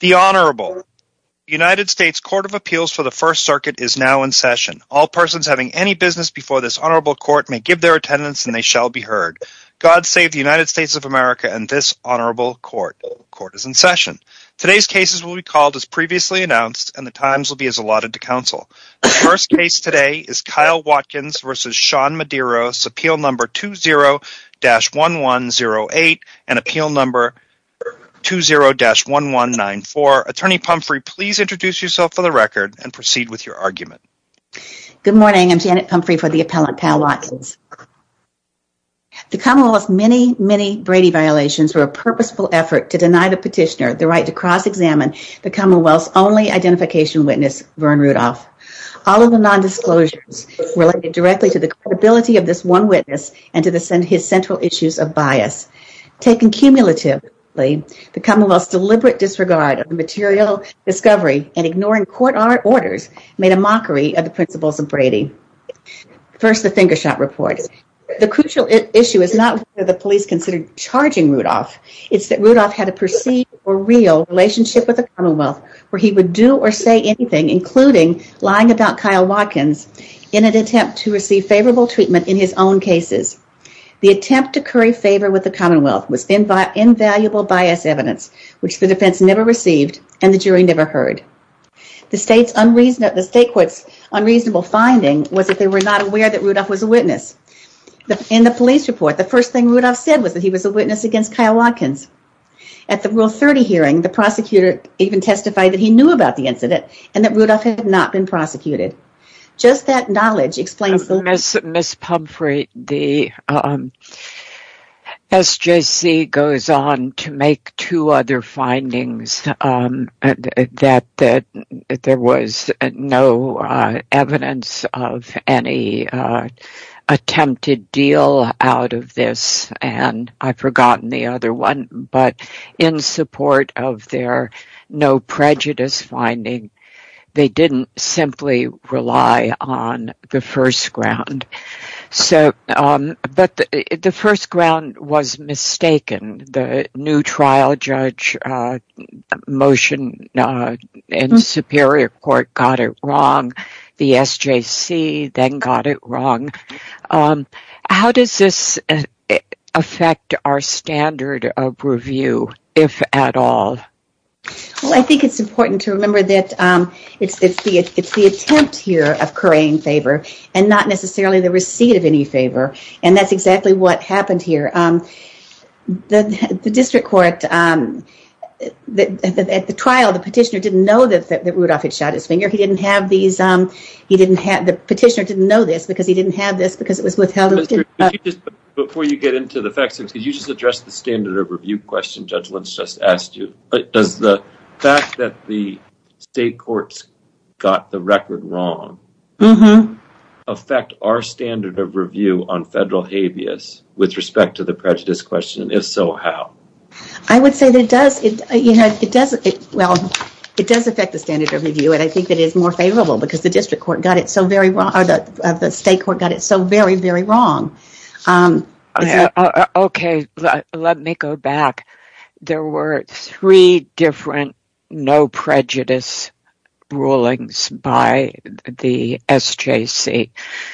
The Honorable. The United States Court of Appeals for the First Circuit is now in session. All persons having any business before this Honorable Court may give their attendance and they shall be heard. God save the United States of America and this Honorable Court. Court is in session. Today's cases will be called as previously announced and the times will be as allotted to counsel. First case today is Kyle Watkins versus Sean Medeiros, appeal number 20-1108 and appeal number 20-1194. Attorney Pumphrey, please introduce yourself for the record and proceed with your argument. Good morning, I'm Janet Pumphrey for the appellant Kyle Watkins. The Commonwealth's many, many Brady violations were a purposeful effort to deny the petitioner the right to cross-examine the Commonwealth's only identification witness, Vern Rudolph. All of the non-disclosures related directly to the credibility of this one witness and to the central issues of bias. Taken cumulatively, the Commonwealth's deliberate disregard of the material discovery and ignoring court orders made a mockery of the principles of Brady. First, the finger shot report. The crucial issue is not whether the police considered charging Rudolph, it's that Rudolph had a perceived or real relationship with the Commonwealth where he would do or say anything, including lying about Kyle Watkins' own cases. The attempt to curry favor with the Commonwealth was invaluable bias evidence, which the defense never received and the jury never heard. The state's unreasonable finding was that they were not aware that Rudolph was a witness. In the police report, the first thing Rudolph said was that he was a witness against Kyle Watkins. At the Rule 30 hearing, the prosecutor even testified that he knew about the incident and that Rudolph had not been prosecuted. Just that knowledge explains the... Ms. Pumphrey, the SJC goes on to make two other findings that there was no evidence of any attempted deal out of this, and I've forgotten the other one, but in support of their no prejudice finding, they didn't simply rely on the first ground. So, but the first ground was mistaken. The new trial judge motion in Superior Court got it wrong. The SJC then got it wrong. How does this affect our standard of review, if at all? Well, I think it's important to note that there was no attempt here of currying favor, and not necessarily the receipt of any favor, and that's exactly what happened here. The district court, at the trial, the petitioner didn't know that Rudolph had shot his finger. He didn't have these, he didn't have, the petitioner didn't know this because he didn't have this because it was withheld. Before you get into the facts, could you just address the standard of review question Judge Lentz just asked you? Does the fact that the state courts got the record wrong, mm-hmm, affect our standard of review on federal habeas with respect to the prejudice question? If so, how? I would say that it does, you know, it does, well, it does affect the standard of review, and I think it is more favorable because the district court got it so very wrong, or the state court got it so very, very wrong. Okay, let me go back. There were three different no prejudice rulings by the SJC,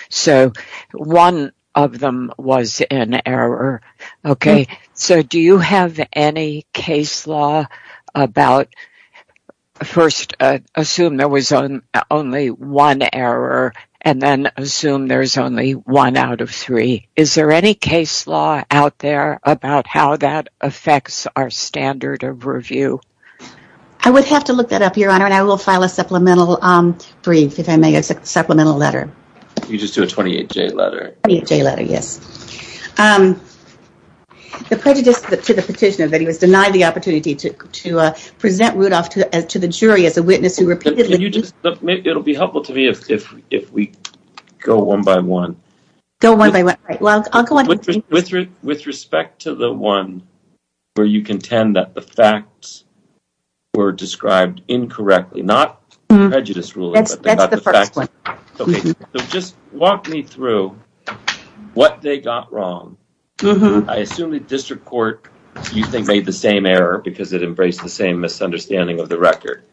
so one of them was an error. Okay, so do you have any case law about, first, assume there was only one error, and then assume there's only one out of three. Is there any case law out there about how that affects our standard of review? I would have to look that up, Your Honor, and I will file a supplemental brief, if I may, a supplemental letter. You just do a 28-J letter? 28-J letter, yes. The prejudice to the petitioner that he was denied the opportunity to present Rudolph to the jury as a witness who repeatedly... Can you just, it'll be helpful to me if we go one by one. Go one by one. With respect to the one where you contend that the facts were described incorrectly, not prejudice ruling... That's the first one. Okay, just walk me through what they got wrong. Mm-hmm. I assume the district court, you think, made the same error because it embraced the same misunderstanding of the record,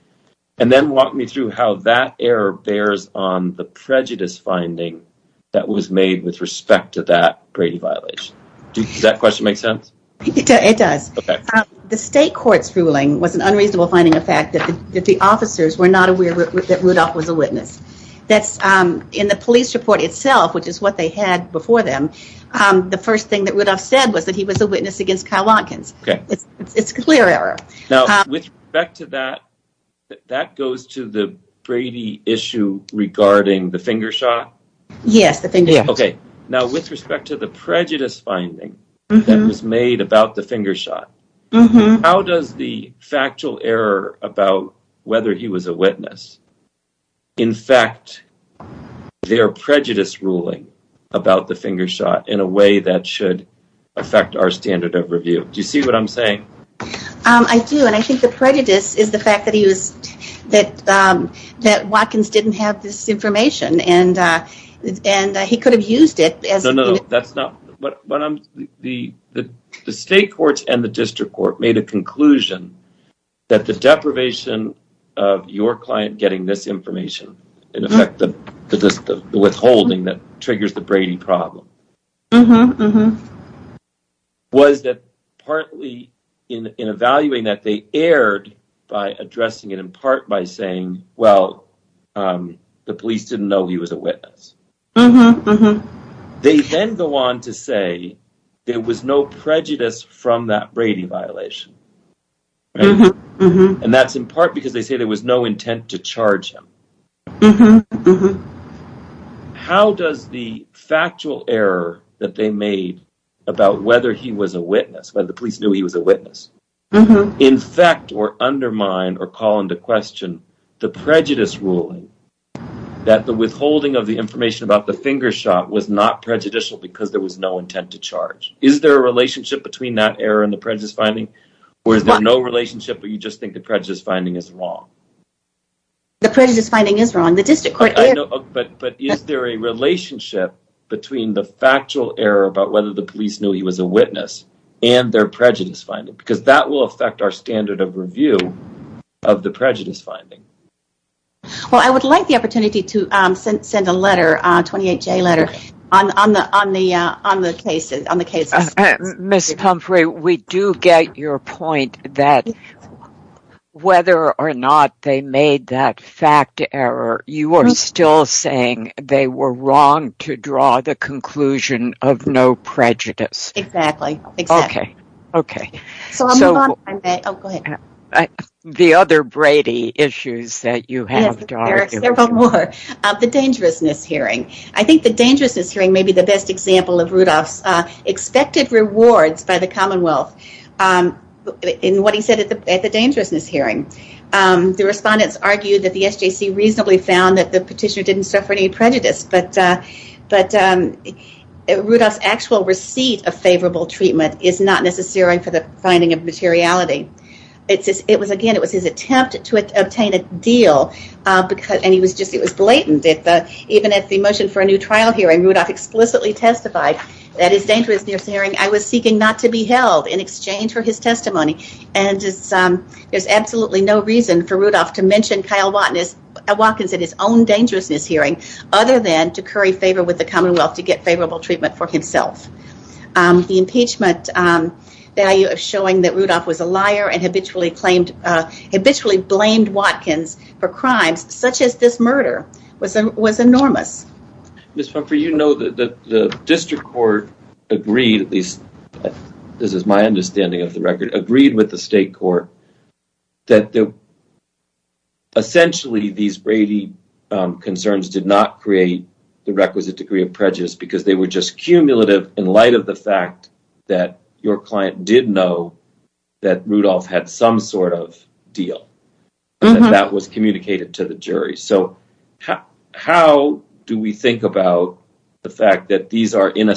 and then walk me through how that error bears on the prejudice finding that was made with respect to that Grady violation. Does that question make sense? It does. Okay. The state court's ruling was an unreasonable finding of fact that the officers were not aware that Rudolph was a witness. That's, in the police report itself, which is what they had before them, the first thing that Rudolph said was that he was a witness against Kyle Watkins. Okay. It's a clear error. Now, with respect to that, that goes to the Brady issue regarding the finger shot? Yes, the finger shot. Okay. Now, with respect to the prejudice finding that was made about the finger shot, how does the factual error about whether he was a witness infect their prejudice ruling about the finger shot in a way that should affect our standard of review? Do you see what I'm saying? I do, and I think the prejudice is the fact that he was that Watkins didn't have this information, and he could have used it. No, no, that's not what I'm saying. The state courts and the district court made a conclusion that the deprivation of your client getting this information, in effect, the withholding that triggers the Brady problem, was that partly in evaluating that they erred by addressing it in part by saying, well, the police didn't know he was a witness. Mm-hmm. They then go on to say there was no prejudice from that Brady violation, and that's in part because they say there was no intent to charge him. Mm-hmm. How does the factual error that they made about whether he was a witness, whether the police knew he was a witness, infect or undermine or call into question the prejudice ruling that the withholding of the information about the finger shot was not prejudicial because there was no intent to charge? Is there a relationship between that error and the prejudice finding, or is there no relationship, or you just think the prejudice finding is wrong? The prejudice finding is wrong. The district court... But is there a relationship between the fact that the police knew he was a witness and their prejudice finding? Because that will affect our standard of review of the prejudice finding. Well, I would like the opportunity to send a letter, a 28-J letter, on the cases. Ms. Humphrey, we do get your point that whether or not they made that fact error, you are still saying they were wrong to have no prejudice. Exactly. Okay, okay. The other Brady issues that you have to argue with. Yes, there are several more. The dangerousness hearing. I think the dangerousness hearing may be the best example of Rudolph's expected rewards by the Commonwealth in what he said at the dangerousness hearing. The respondents argued that the SJC reasonably found that the petitioner didn't suffer any prejudice, but Rudolph's actual receipt of favorable treatment is not necessary for the finding of materiality. It was, again, it was his attempt to obtain a deal, and he was just, it was blatant. Even at the motion for a new trial hearing, Rudolph explicitly testified that his dangerousness hearing, I was seeking not to be held in exchange for his testimony, and there's absolutely no reason for Rudolph to mention Kyle Watkins at his own dangerousness hearing, other than to curry favor with the Commonwealth to get favorable treatment for himself. The impeachment value of showing that Rudolph was a liar and habitually claimed, habitually blamed Watkins for crimes, such as this murder, was enormous. Ms. Pumphrey, you know that the district court agreed, at least this is my understanding of the record, agreed with the state court that essentially these Brady concerns did not create the requisite degree of prejudice, because they were just cumulative in light of the fact that your client did know that Rudolph had some sort of deal, and that was communicated to the jury. So how do we think about the fact that these are, in a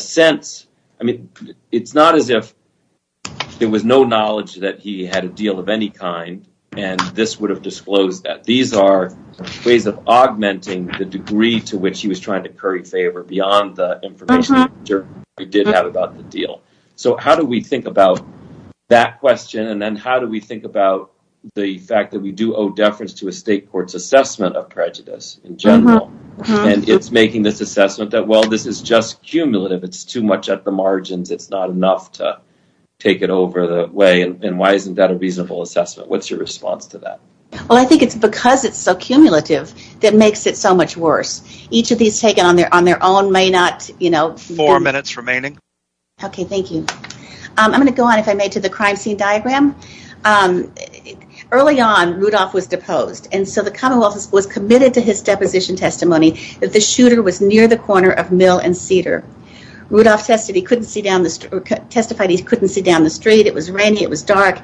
and this would have disclosed that. These are ways of augmenting the degree to which he was trying to curry favor beyond the information we did have about the deal. So how do we think about that question, and then how do we think about the fact that we do owe deference to a state court's assessment of prejudice in general, and it's making this assessment that, well, this is just cumulative, it's too much at the margins, it's not enough to take it over the way, and why isn't that a reasonable assessment? What's your response to that? Well, I think it's because it's so cumulative that makes it so much worse. Each of these taken on their own may not, you know... Four minutes remaining. Okay, thank you. I'm going to go on, if I may, to the crime scene diagram. Early on, Rudolph was deposed, and so the Commonwealth was committed to his deposition testimony that the shooter was near the corner of Mill and Cedar. Rudolph testified he couldn't see down the street, it was rainy, it was dark,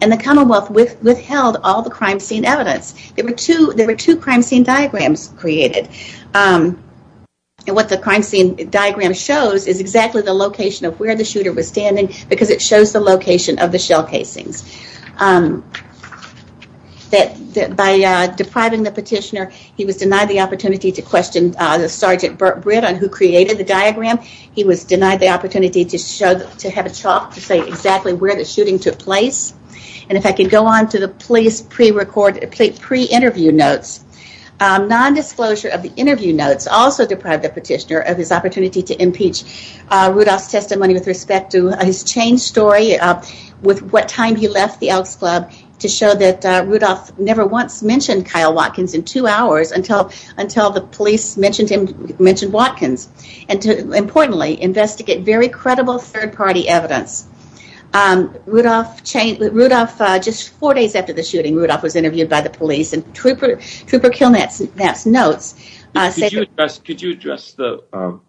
and the Commonwealth withheld all the crime scene evidence. There were two crime scene diagrams created, and what the crime scene diagram shows is exactly the location of where the shooter was standing, because it shows the location of the shell casings. By depriving the petitioner, he was denied the opportunity to question the Sergeant Britt on who created the diagram. He was denied the opportunity to have a chalk to say exactly where the shooting took place, and if I could go on to the police pre-recorded, pre-interview notes. Non-disclosure of the interview notes also deprived the petitioner of his opportunity to impeach Rudolph's testimony with respect to his chain story, with what time he left the Elks Club, to show that Rudolph never once mentioned Kyle Watkins in two hours until the police mentioned Watkins, and to, importantly, investigate very credible third-party evidence. Rudolph, just four days after the shooting, Rudolph was interviewed by the police, and Trooper Kilnatt's notes say... Could you address the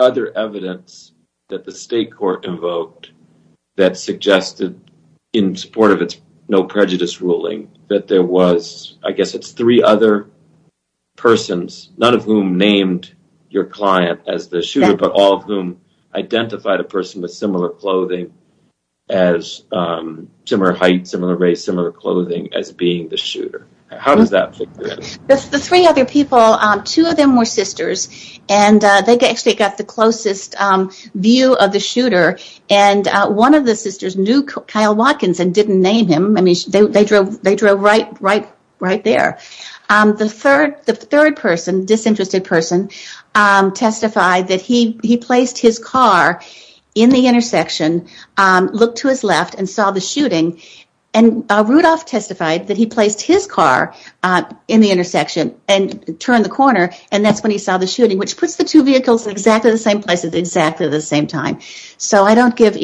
other evidence that the state court invoked that suggested, in support of its no prejudice ruling, that there was, I guess it's three other persons, none of whom named your client as the shooter, but all of whom identified a person with similar clothing, as similar height, similar race, similar clothing, as being the shooter. How does that fit in? The three other people, two of them were sisters, and they actually got the closest view of the shooter, and one of the sisters knew Kyle Watkins and didn't name him. I mean, they drove right there. The third person, disinterested person, testified that he placed his car in the intersection, looked to his left, and saw the shooting, and Rudolph testified that he placed his car in the intersection and turned the corner, and that's when he saw the shooting, which puts the two vehicles in exactly the same place at exactly the same time. So I don't give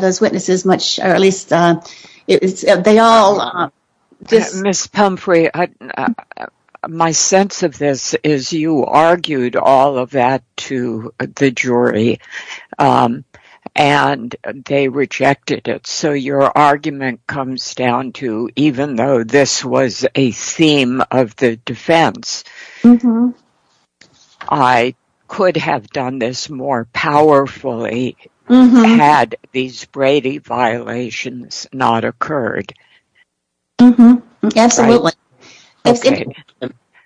those witnesses much, or at least they all... Ms. Pumphrey, my sense of this is you argued all of that to the jury, and they rejected it. So your argument comes down to, even though this was a theme of the defense, I could have done this more powerfully had these Brady violations not occurred. Mm-hmm, absolutely.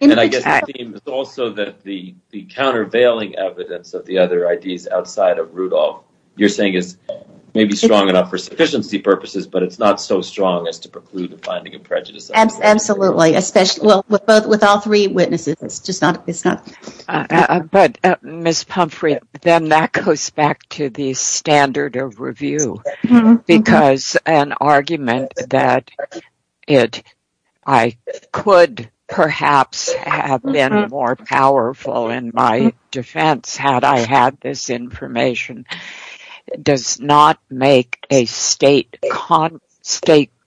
And I guess the theme is also that the countervailing evidence of the other ideas outside of Rudolph, you're saying, is maybe strong enough for sufficiency purposes, but it's not so strong as to preclude the finding of prejudice. Absolutely, especially, well, with all three witnesses, it's just not, it's goes back to the standard of review, because an argument that I could perhaps have been more powerful in my defense had I had this information does not make a state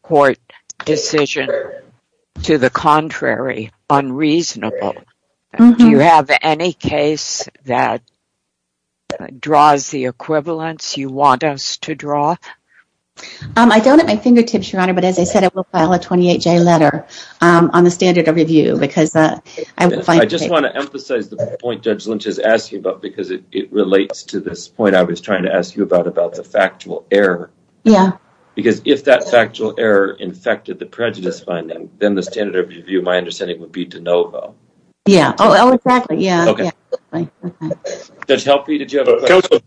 court decision to the contrary unreasonable. Do you have any case that draws the equivalence you want us to draw? I don't at my fingertips, Your Honor, but as I said, I will file a 28-J letter on the standard of review, because... I just want to emphasize the point Judge Lynch is asking about, because it relates to this point I was trying to ask you about, about the factual error. Yeah. Because if that factual error infected the prejudice finding, then the Yeah. Okay. Does that help you? Did you have a question?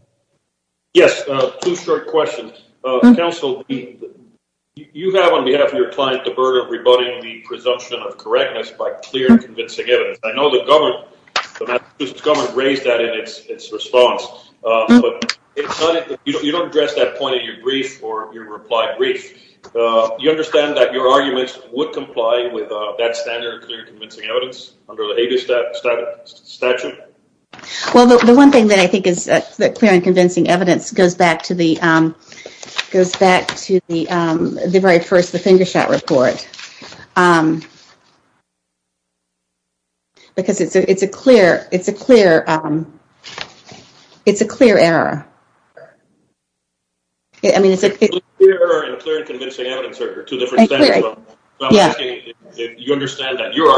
Yes, two short questions. Counsel, you have on behalf of your client, the burden of rebutting the presumption of correctness by clear and convincing evidence. I know the government raised that in its response, but you don't address that point in your brief or your reply brief. You understand that your arguments would comply with that standard of clear and convincing evidence under the statute? Well, the one thing that I think is that clear and convincing evidence goes back to the goes back to the very first, the finger shot report. Because it's a clear, it's a clear, it's a clear error. I mean, it's a clear and convincing evidence. You understand that your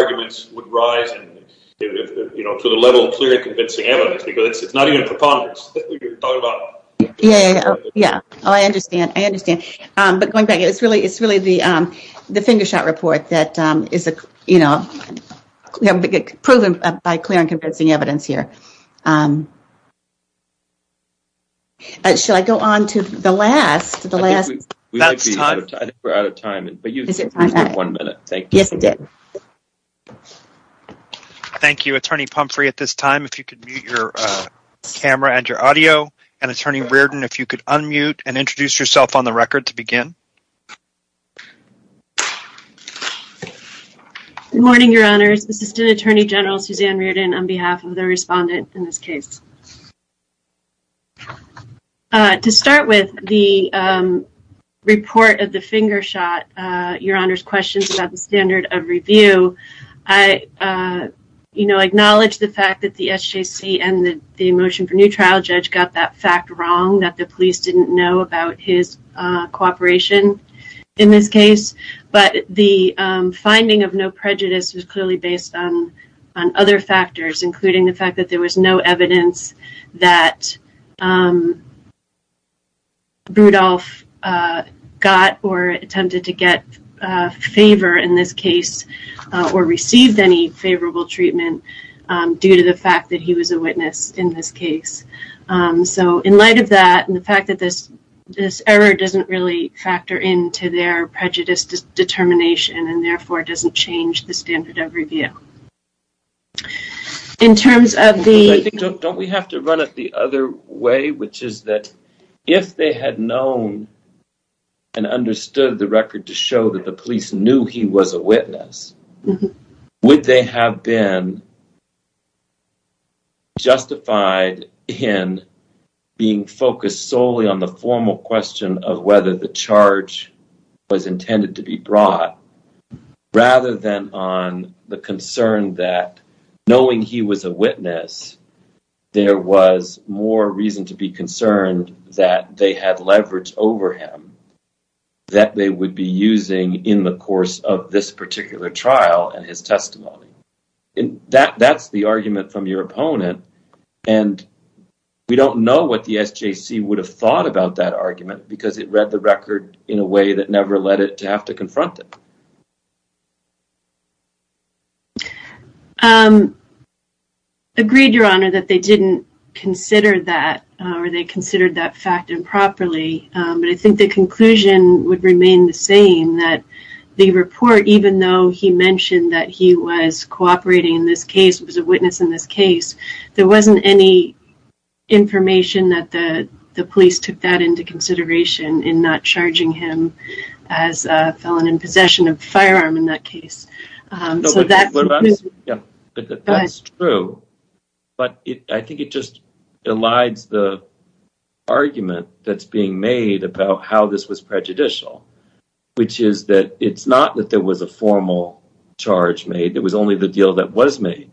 Yeah. Yeah. Oh, I understand. I understand. But going back, it's really, it's really the, the finger shot report that is a, you know, proven by clear and convincing evidence here. Should I go on to the last, the last? We're out of time. One minute. Thank you. Yes, you did. Thank you, Attorney Pumphrey. At this time, if you could mute your camera and your audio, and Attorney Reardon, if you could unmute and introduce yourself on the record to begin. Good morning, Your Honors. Assistant Attorney General Suzanne Reardon on behalf of the respondent in this case. To start with the report of the finger shot, Your Honors, questions about the standard of review. I, you know, acknowledge the fact that the SJC and the the motion for new trial judge got that fact wrong that the police didn't know about his cooperation in this case. But the finding of no prejudice was clearly based on other factors, including the fact that there was no evidence that Rudolph got or attempted to get favor in this case or received any favorable treatment due to the fact that he was a witness in this case. So in light of that, and the fact that this, this error doesn't really factor into their in terms of the... Don't we have to run it the other way, which is that if they had known and understood the record to show that the police knew he was a witness, would they have been justified in being focused solely on the formal question of whether the charge was intended to be that if Rudolph was a witness, there was more reason to be concerned that they had leverage over him that they would be using in the course of this particular trial and his testimony. And that that's the argument from your opponent. And we don't know what the SJC would have thought about that argument because it read the record in a way that never led it to have to confront it. Agreed, Your Honor, that they didn't consider that or they considered that fact improperly. But I think the conclusion would remain the same, that the report, even though he mentioned that he was cooperating in this case, was a witness in this case, there wasn't any information that the the police took that into consideration in not charging him as a felon in possession of a firearm in that case. That's true, but I think it just elides the argument that's being made about how this was prejudicial, which is that it's not that there was a formal charge made. It was only the deal that was made.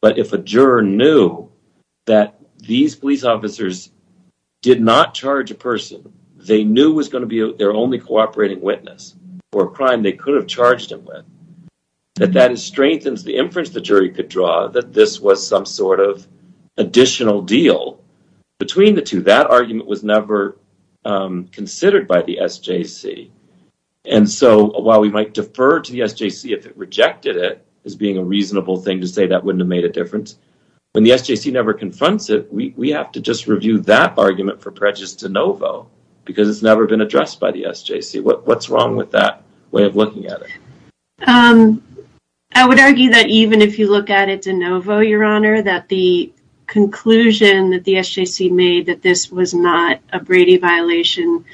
But if a juror knew that these police officers did not charge a person, they knew was going to be their only cooperating witness for a crime they could have charged him with, that that strengthens the inference the jury could draw that this was some sort of additional deal between the two. That argument was never considered by the SJC. And so while we might defer to the SJC if it rejected it as being a reasonable thing to say that wouldn't have made a difference, when the SJC never confronts it, we have to just review that argument for prejudice de novo because it's never been addressed by the SJC. What's wrong with that way of looking at it? I would argue that even if you look at it de novo, your honor, that the conclusion that the SJC made that this was not a Brady violation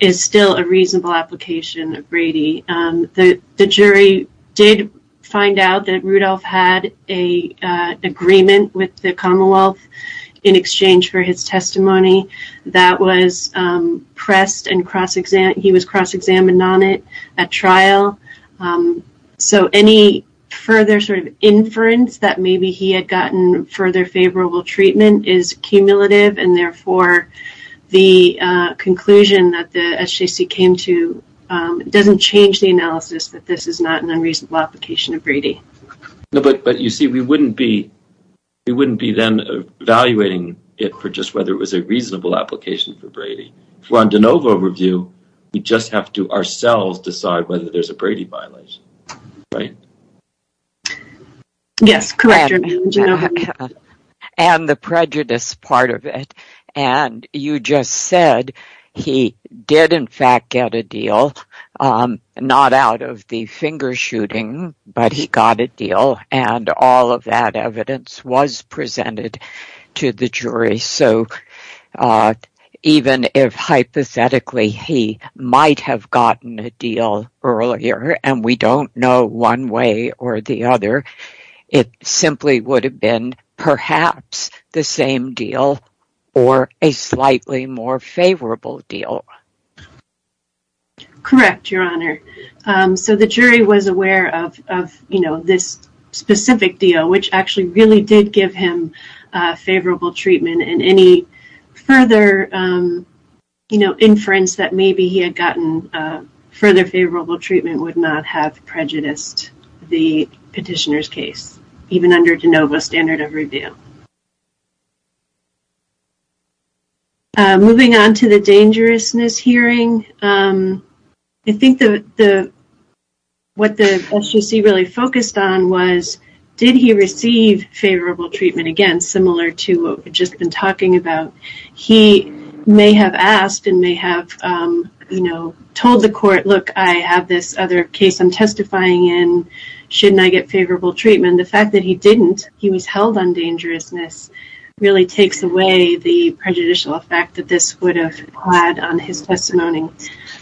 is still a reasonable application of Brady. The jury did find out that Rudolph had an agreement with the Commonwealth in exchange for his testimony that was pressed and he was cross-examined on it at trial. So any further sort of inference that maybe he had gotten further favorable treatment is cumulative and therefore the conclusion that the SJC came to doesn't change the analysis that this is not an unreasonable application of Brady. But you see, we wouldn't be then evaluating it for just whether it was a reasonable application for Brady. For a de novo review, we just have to ourselves decide whether there's a Brady violation, right? Yes, correct. And the prejudice part of it. And you just said he did in fact get a deal not out of the finger shooting, but he got a deal and all of that evidence was presented to the jury. So even if hypothetically he might have gotten a deal earlier and we don't know one way or the other, it simply would have been perhaps the same deal or a slightly more favorable deal. Correct, your honor. So the jury was aware of this specific deal which actually really did give him favorable treatment and any further inference that maybe he had gotten further favorable treatment would not have prejudiced the jury. Moving on to the dangerousness hearing, I think what the SJC really focused on was did he receive favorable treatment? Again, similar to what we've just been talking about, he may have asked and may have told the court, look, I have this other case I'm testifying in, shouldn't I get favorable treatment? The fact that he didn't, he was held on dangerousness, really takes away the prejudicial effect that this would have had on his testimony.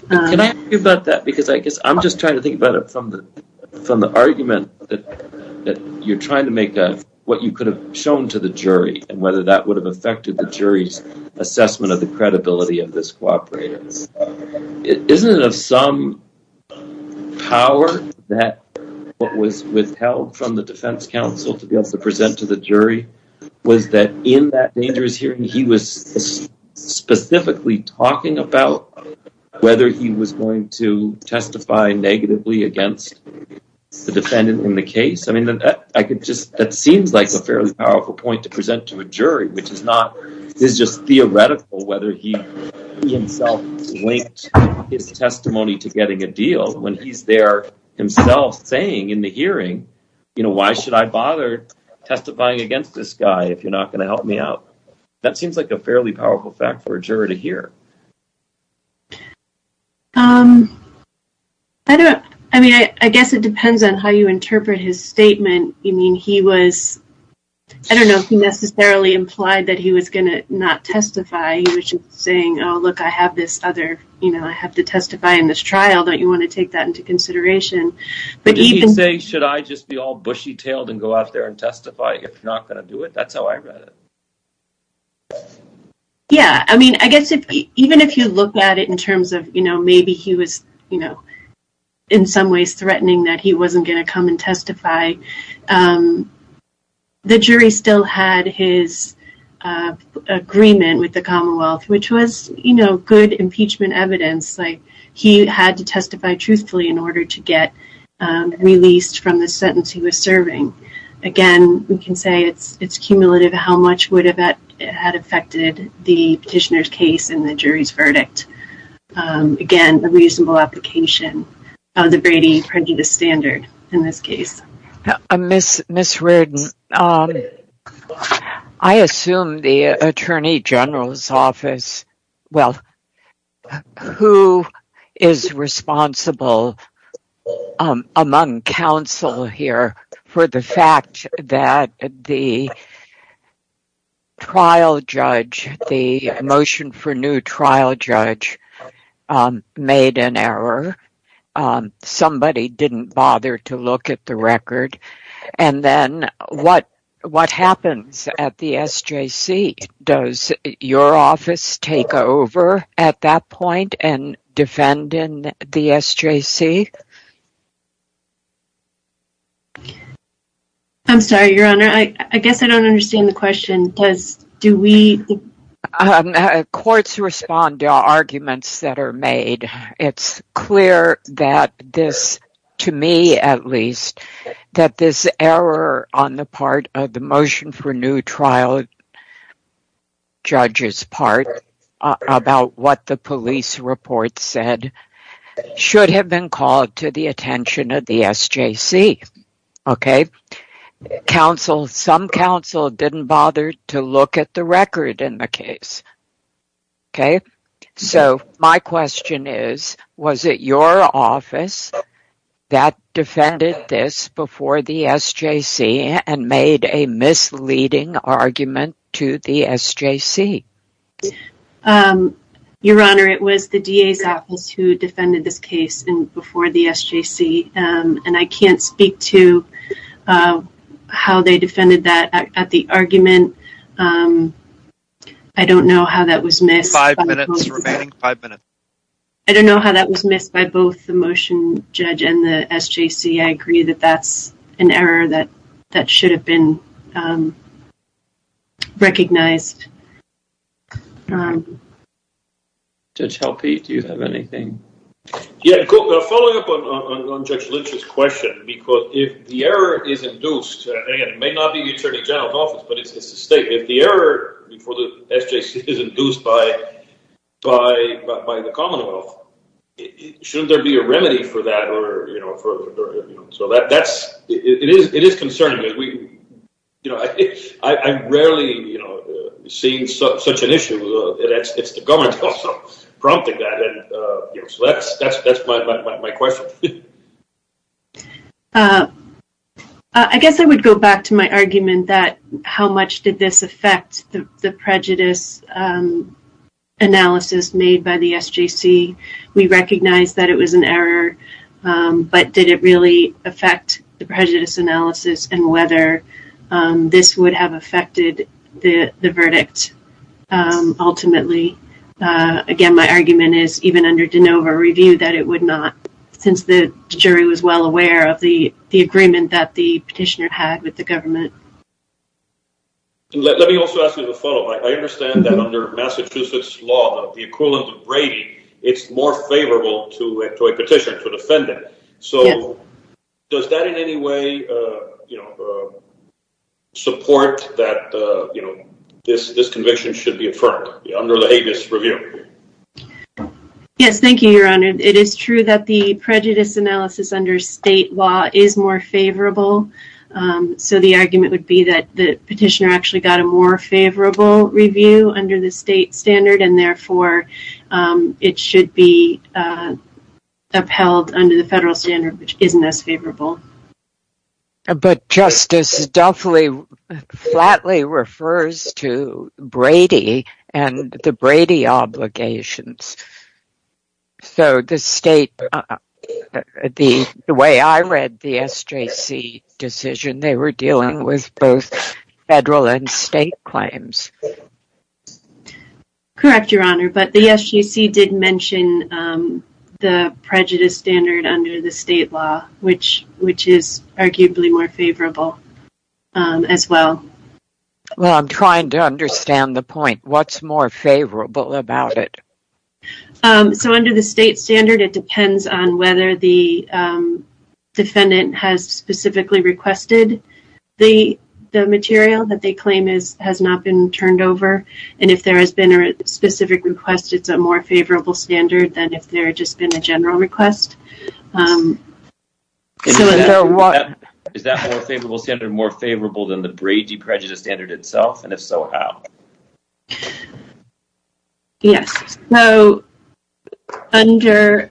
Can I ask you about that? Because I guess I'm just trying to think about it from the argument that you're trying to make what you could have shown to the jury and whether that would have affected the jury's assessment of the credibility of this cooperatives. Isn't it of some power that what was withheld from the defense counsel to be able to present to the jury was that in that dangerous hearing he was specifically talking about whether he was going to testify negatively against the defendant in the case? That seems like a fairly powerful point to present to a jury, which is just theoretical whether he himself linked his testimony to getting a deal. When he's there himself saying in the hearing, why should I testify against this guy if you're not going to help me out? That seems like a fairly powerful fact for a juror to hear. I guess it depends on how you interpret his statement. He was, I don't know if he necessarily implied that he was going to not testify. He was just saying, look, I have this other, I have to testify in this trial, don't you want to take that into consideration? Did he say, should I just be all bushy-tailed and go out there and testify if you're not going to do it? That's how I read it. Yeah, I mean, I guess even if you look at it in terms of maybe he was in some ways threatening that he wasn't going to come and testify, the jury still had his agreement with the Commonwealth, which was good impeachment evidence. He had to testify truthfully in order to get released from the sentence he was serving. Again, we can say it's cumulative how much would have that had affected the petitioner's case and the jury's verdict. Again, a reasonable application of the Brady prejudice standard in this case. Ms. Reardon, I assume the Attorney General's Office, well, who is responsible among counsel here for the fact that the trial judge, the motion for new trial judge made an error, somebody didn't bother to look at the record, and then what happens at the SJC? Does your office take over at that point and defend in the SJC? I'm sorry, Your Honor, I guess I don't understand the question. Courts respond to arguments that are made. It's clear that this, to me at least, that this error on the part of the motion for new trial judge's part about what the police report said should have been called to the attention of the SJC. Okay, counsel, some counsel didn't bother to look at the record in the case. Okay, so my question is, was it your office that defended this before the SJC and made a misleading argument to the SJC? Your Honor, it was the DA's office who defended this and I can't speak to how they defended that at the argument. I don't know how that was missed. Five minutes remaining, five minutes. I don't know how that was missed by both the motion judge and the SJC. I agree that that's an error that should have been recognized. Judge Helpe, do you have anything? Yeah, following up on Judge Lynch's question, because if the error is induced, and it may not be the Attorney General's office, but it's the state, if the error for the SJC is induced by the Commonwealth, shouldn't there be a remedy for that? So that's, it is concerning. I've rarely seen such an issue. It's the government also prompting that. So that's my question. I guess I would go back to my argument that how much did this affect the prejudice analysis made by the SJC? We recognize that it was an error, but did it really affect the prejudice analysis and whether this would have affected the verdict ultimately? Again, my argument is even under De Novo review that it would not, since the jury was well aware of the agreement that the petitioner had with the government. Let me also ask you the follow-up. I understand that under Massachusetts law, the equivalent of Brady, it's more favorable to a petitioner, to a defendant. So does that in any way support that this conviction should be affirmed under the Habeas review? Yes, thank you, Your Honor. It is true that the prejudice analysis under state law is more favorable. So the argument would be that the petitioner actually got a more favorable review under the state standard and therefore it should be upheld under the federal standard, which isn't as favorable. But Justice, Duffley flatly refers to Brady and the Brady obligations. So the state, the way I read the SJC decision, they were dealing with both federal and state claims. Correct, Your Honor. But the SJC did mention the prejudice standard under the state law, which is arguably more favorable as well. Well, I'm trying to understand the point. What's more favorable about it? So under the state standard, it depends on whether the defendant has specifically requested the material that they claim has not been turned over. And if there has been a specific request, it's a more favorable standard than if there had just been a general request. Is that more favorable standard more favorable than the Brady prejudice standard itself? And if so, how? Yes. So under,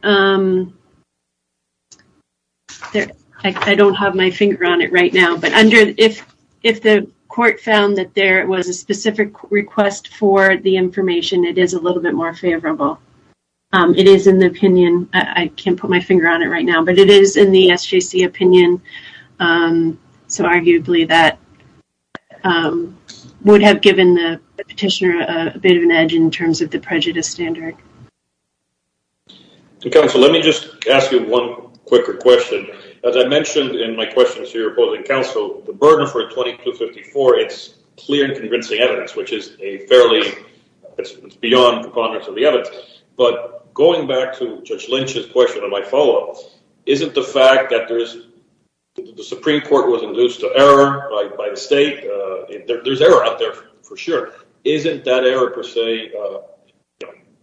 I don't have my finger on it right now, but under if the court found that there was a specific request for the information, it is a little bit more favorable. It is in the opinion. I can't put my finger on it right now, but it is in the SJC opinion. So arguably that would have given the petitioner a bit of an edge in terms of the prejudice standard. Counsel, let me just ask you one quicker question. As I mentioned in my questions to your opposing counsel, the burden for 2254, it's clear and convincing evidence, which is a fairly, it's beyond the ponderance of the evidence. But going back to Judge Lynch's question and my follow-up, isn't the fact that the Supreme Court was induced to error by the state, there's error out there for sure. Isn't that error per se,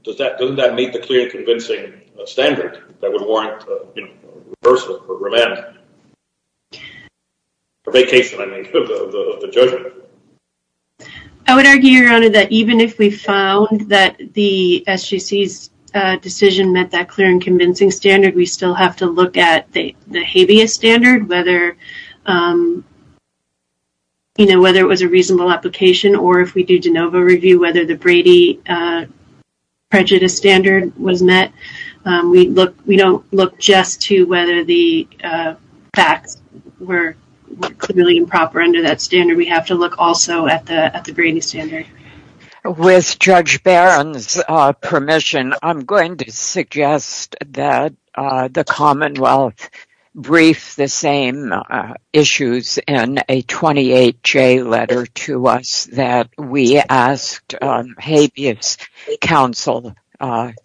doesn't that meet the clear and convincing standard that would warrant reversal or remand? Or vacation, I mean, of the judgment. I would argue, Your Honor, that even if we found that the SJC's decision met that clear and convincing standard, we still have to look at the habeas standard, whether it was a reasonable application or if we do de novo review, whether the Brady prejudice standard was met. We don't look just to whether the facts were clearly improper under that standard. We have to look also at the Brady standard. With Judge Barron's permission, I'm going to suggest that the Commonwealth brief the same issues in a 28J letter to us that we asked habeas counsel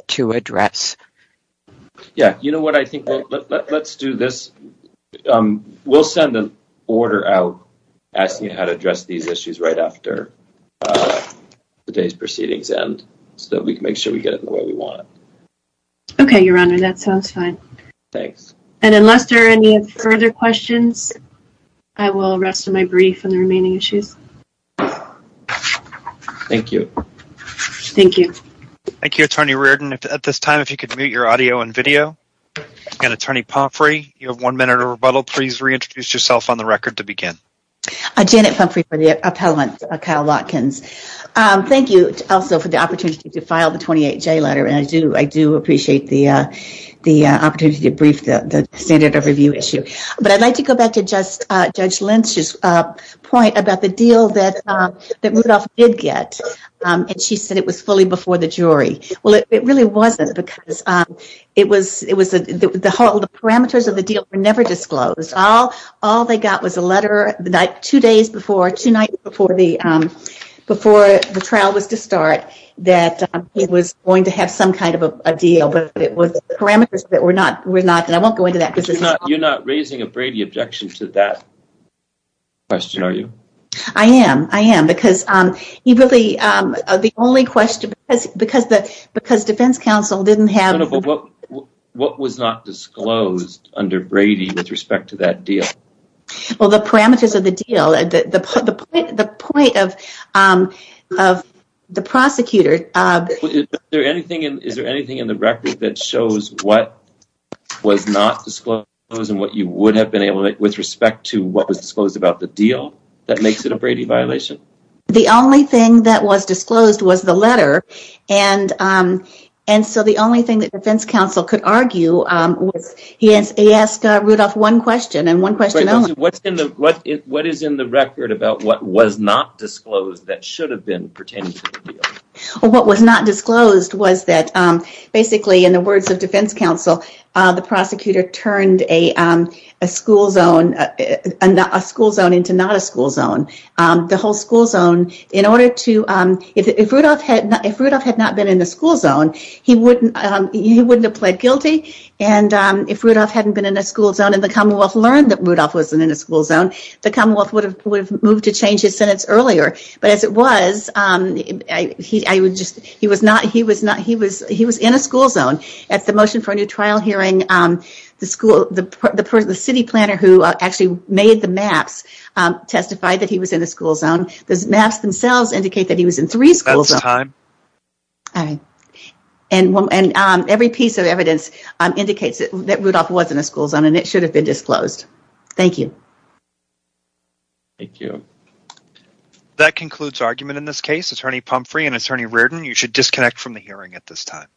to address. Yeah, you know what, I think let's do this. We'll send an order out asking you how to address these issues right after today's proceedings end so we can make sure we get it the way we want. Okay, Your Honor, that sounds fine. Thanks. And unless there are any further questions, I will rest my brief on the remaining issues. Thank you. Thank you. Thank you, Attorney Reardon. At this time, if you could mute your audio and video. And Attorney Pumphrey, you have one minute of rebuttal. Please reintroduce yourself on the record to begin. Janet Pumphrey for the appellant, Kyle Watkins. Thank you also for the opportunity to file the 28J letter and I do appreciate the opportunity to brief the standard of review issue. But I'd like to go back to Judge Lynch's point about the deal that Rudolph did get and she said it was fully before the jury. Well, it really wasn't because the parameters of the deal were never disclosed. All they got was a letter two nights before the trial was to start that it was going to be a trial. I'm not sure if you have any objection to that question, are you? I am. I am. Because defense counsel didn't have... What was not disclosed under Brady with respect to that deal? Well, the parameters of the deal, the point of the prosecutor... Is there anything in the with respect to what was disclosed about the deal that makes it a Brady violation? The only thing that was disclosed was the letter and so the only thing that defense counsel could argue was he asked Rudolph one question and one question only. What is in the record about what was not disclosed that should have been pertaining to the deal? Well, what was not disclosed was that basically in the words of defense counsel, the prosecutor turned a school zone into not a school zone. If Rudolph had not been in the school zone, he wouldn't have pled guilty and if Rudolph hadn't been in a school zone and the Commonwealth learned that Rudolph wasn't in a school zone, the Commonwealth would have moved to change his trial hearing. The city planner who actually made the maps testified that he was in a school zone. The maps themselves indicate that he was in three schools. That's time. And every piece of evidence indicates that Rudolph was in a school zone and it should have been disclosed. Thank you. Thank you. That concludes argument in this case. Attorney Pumphrey and Attorney Reardon, you should disconnect from the hearing at this time.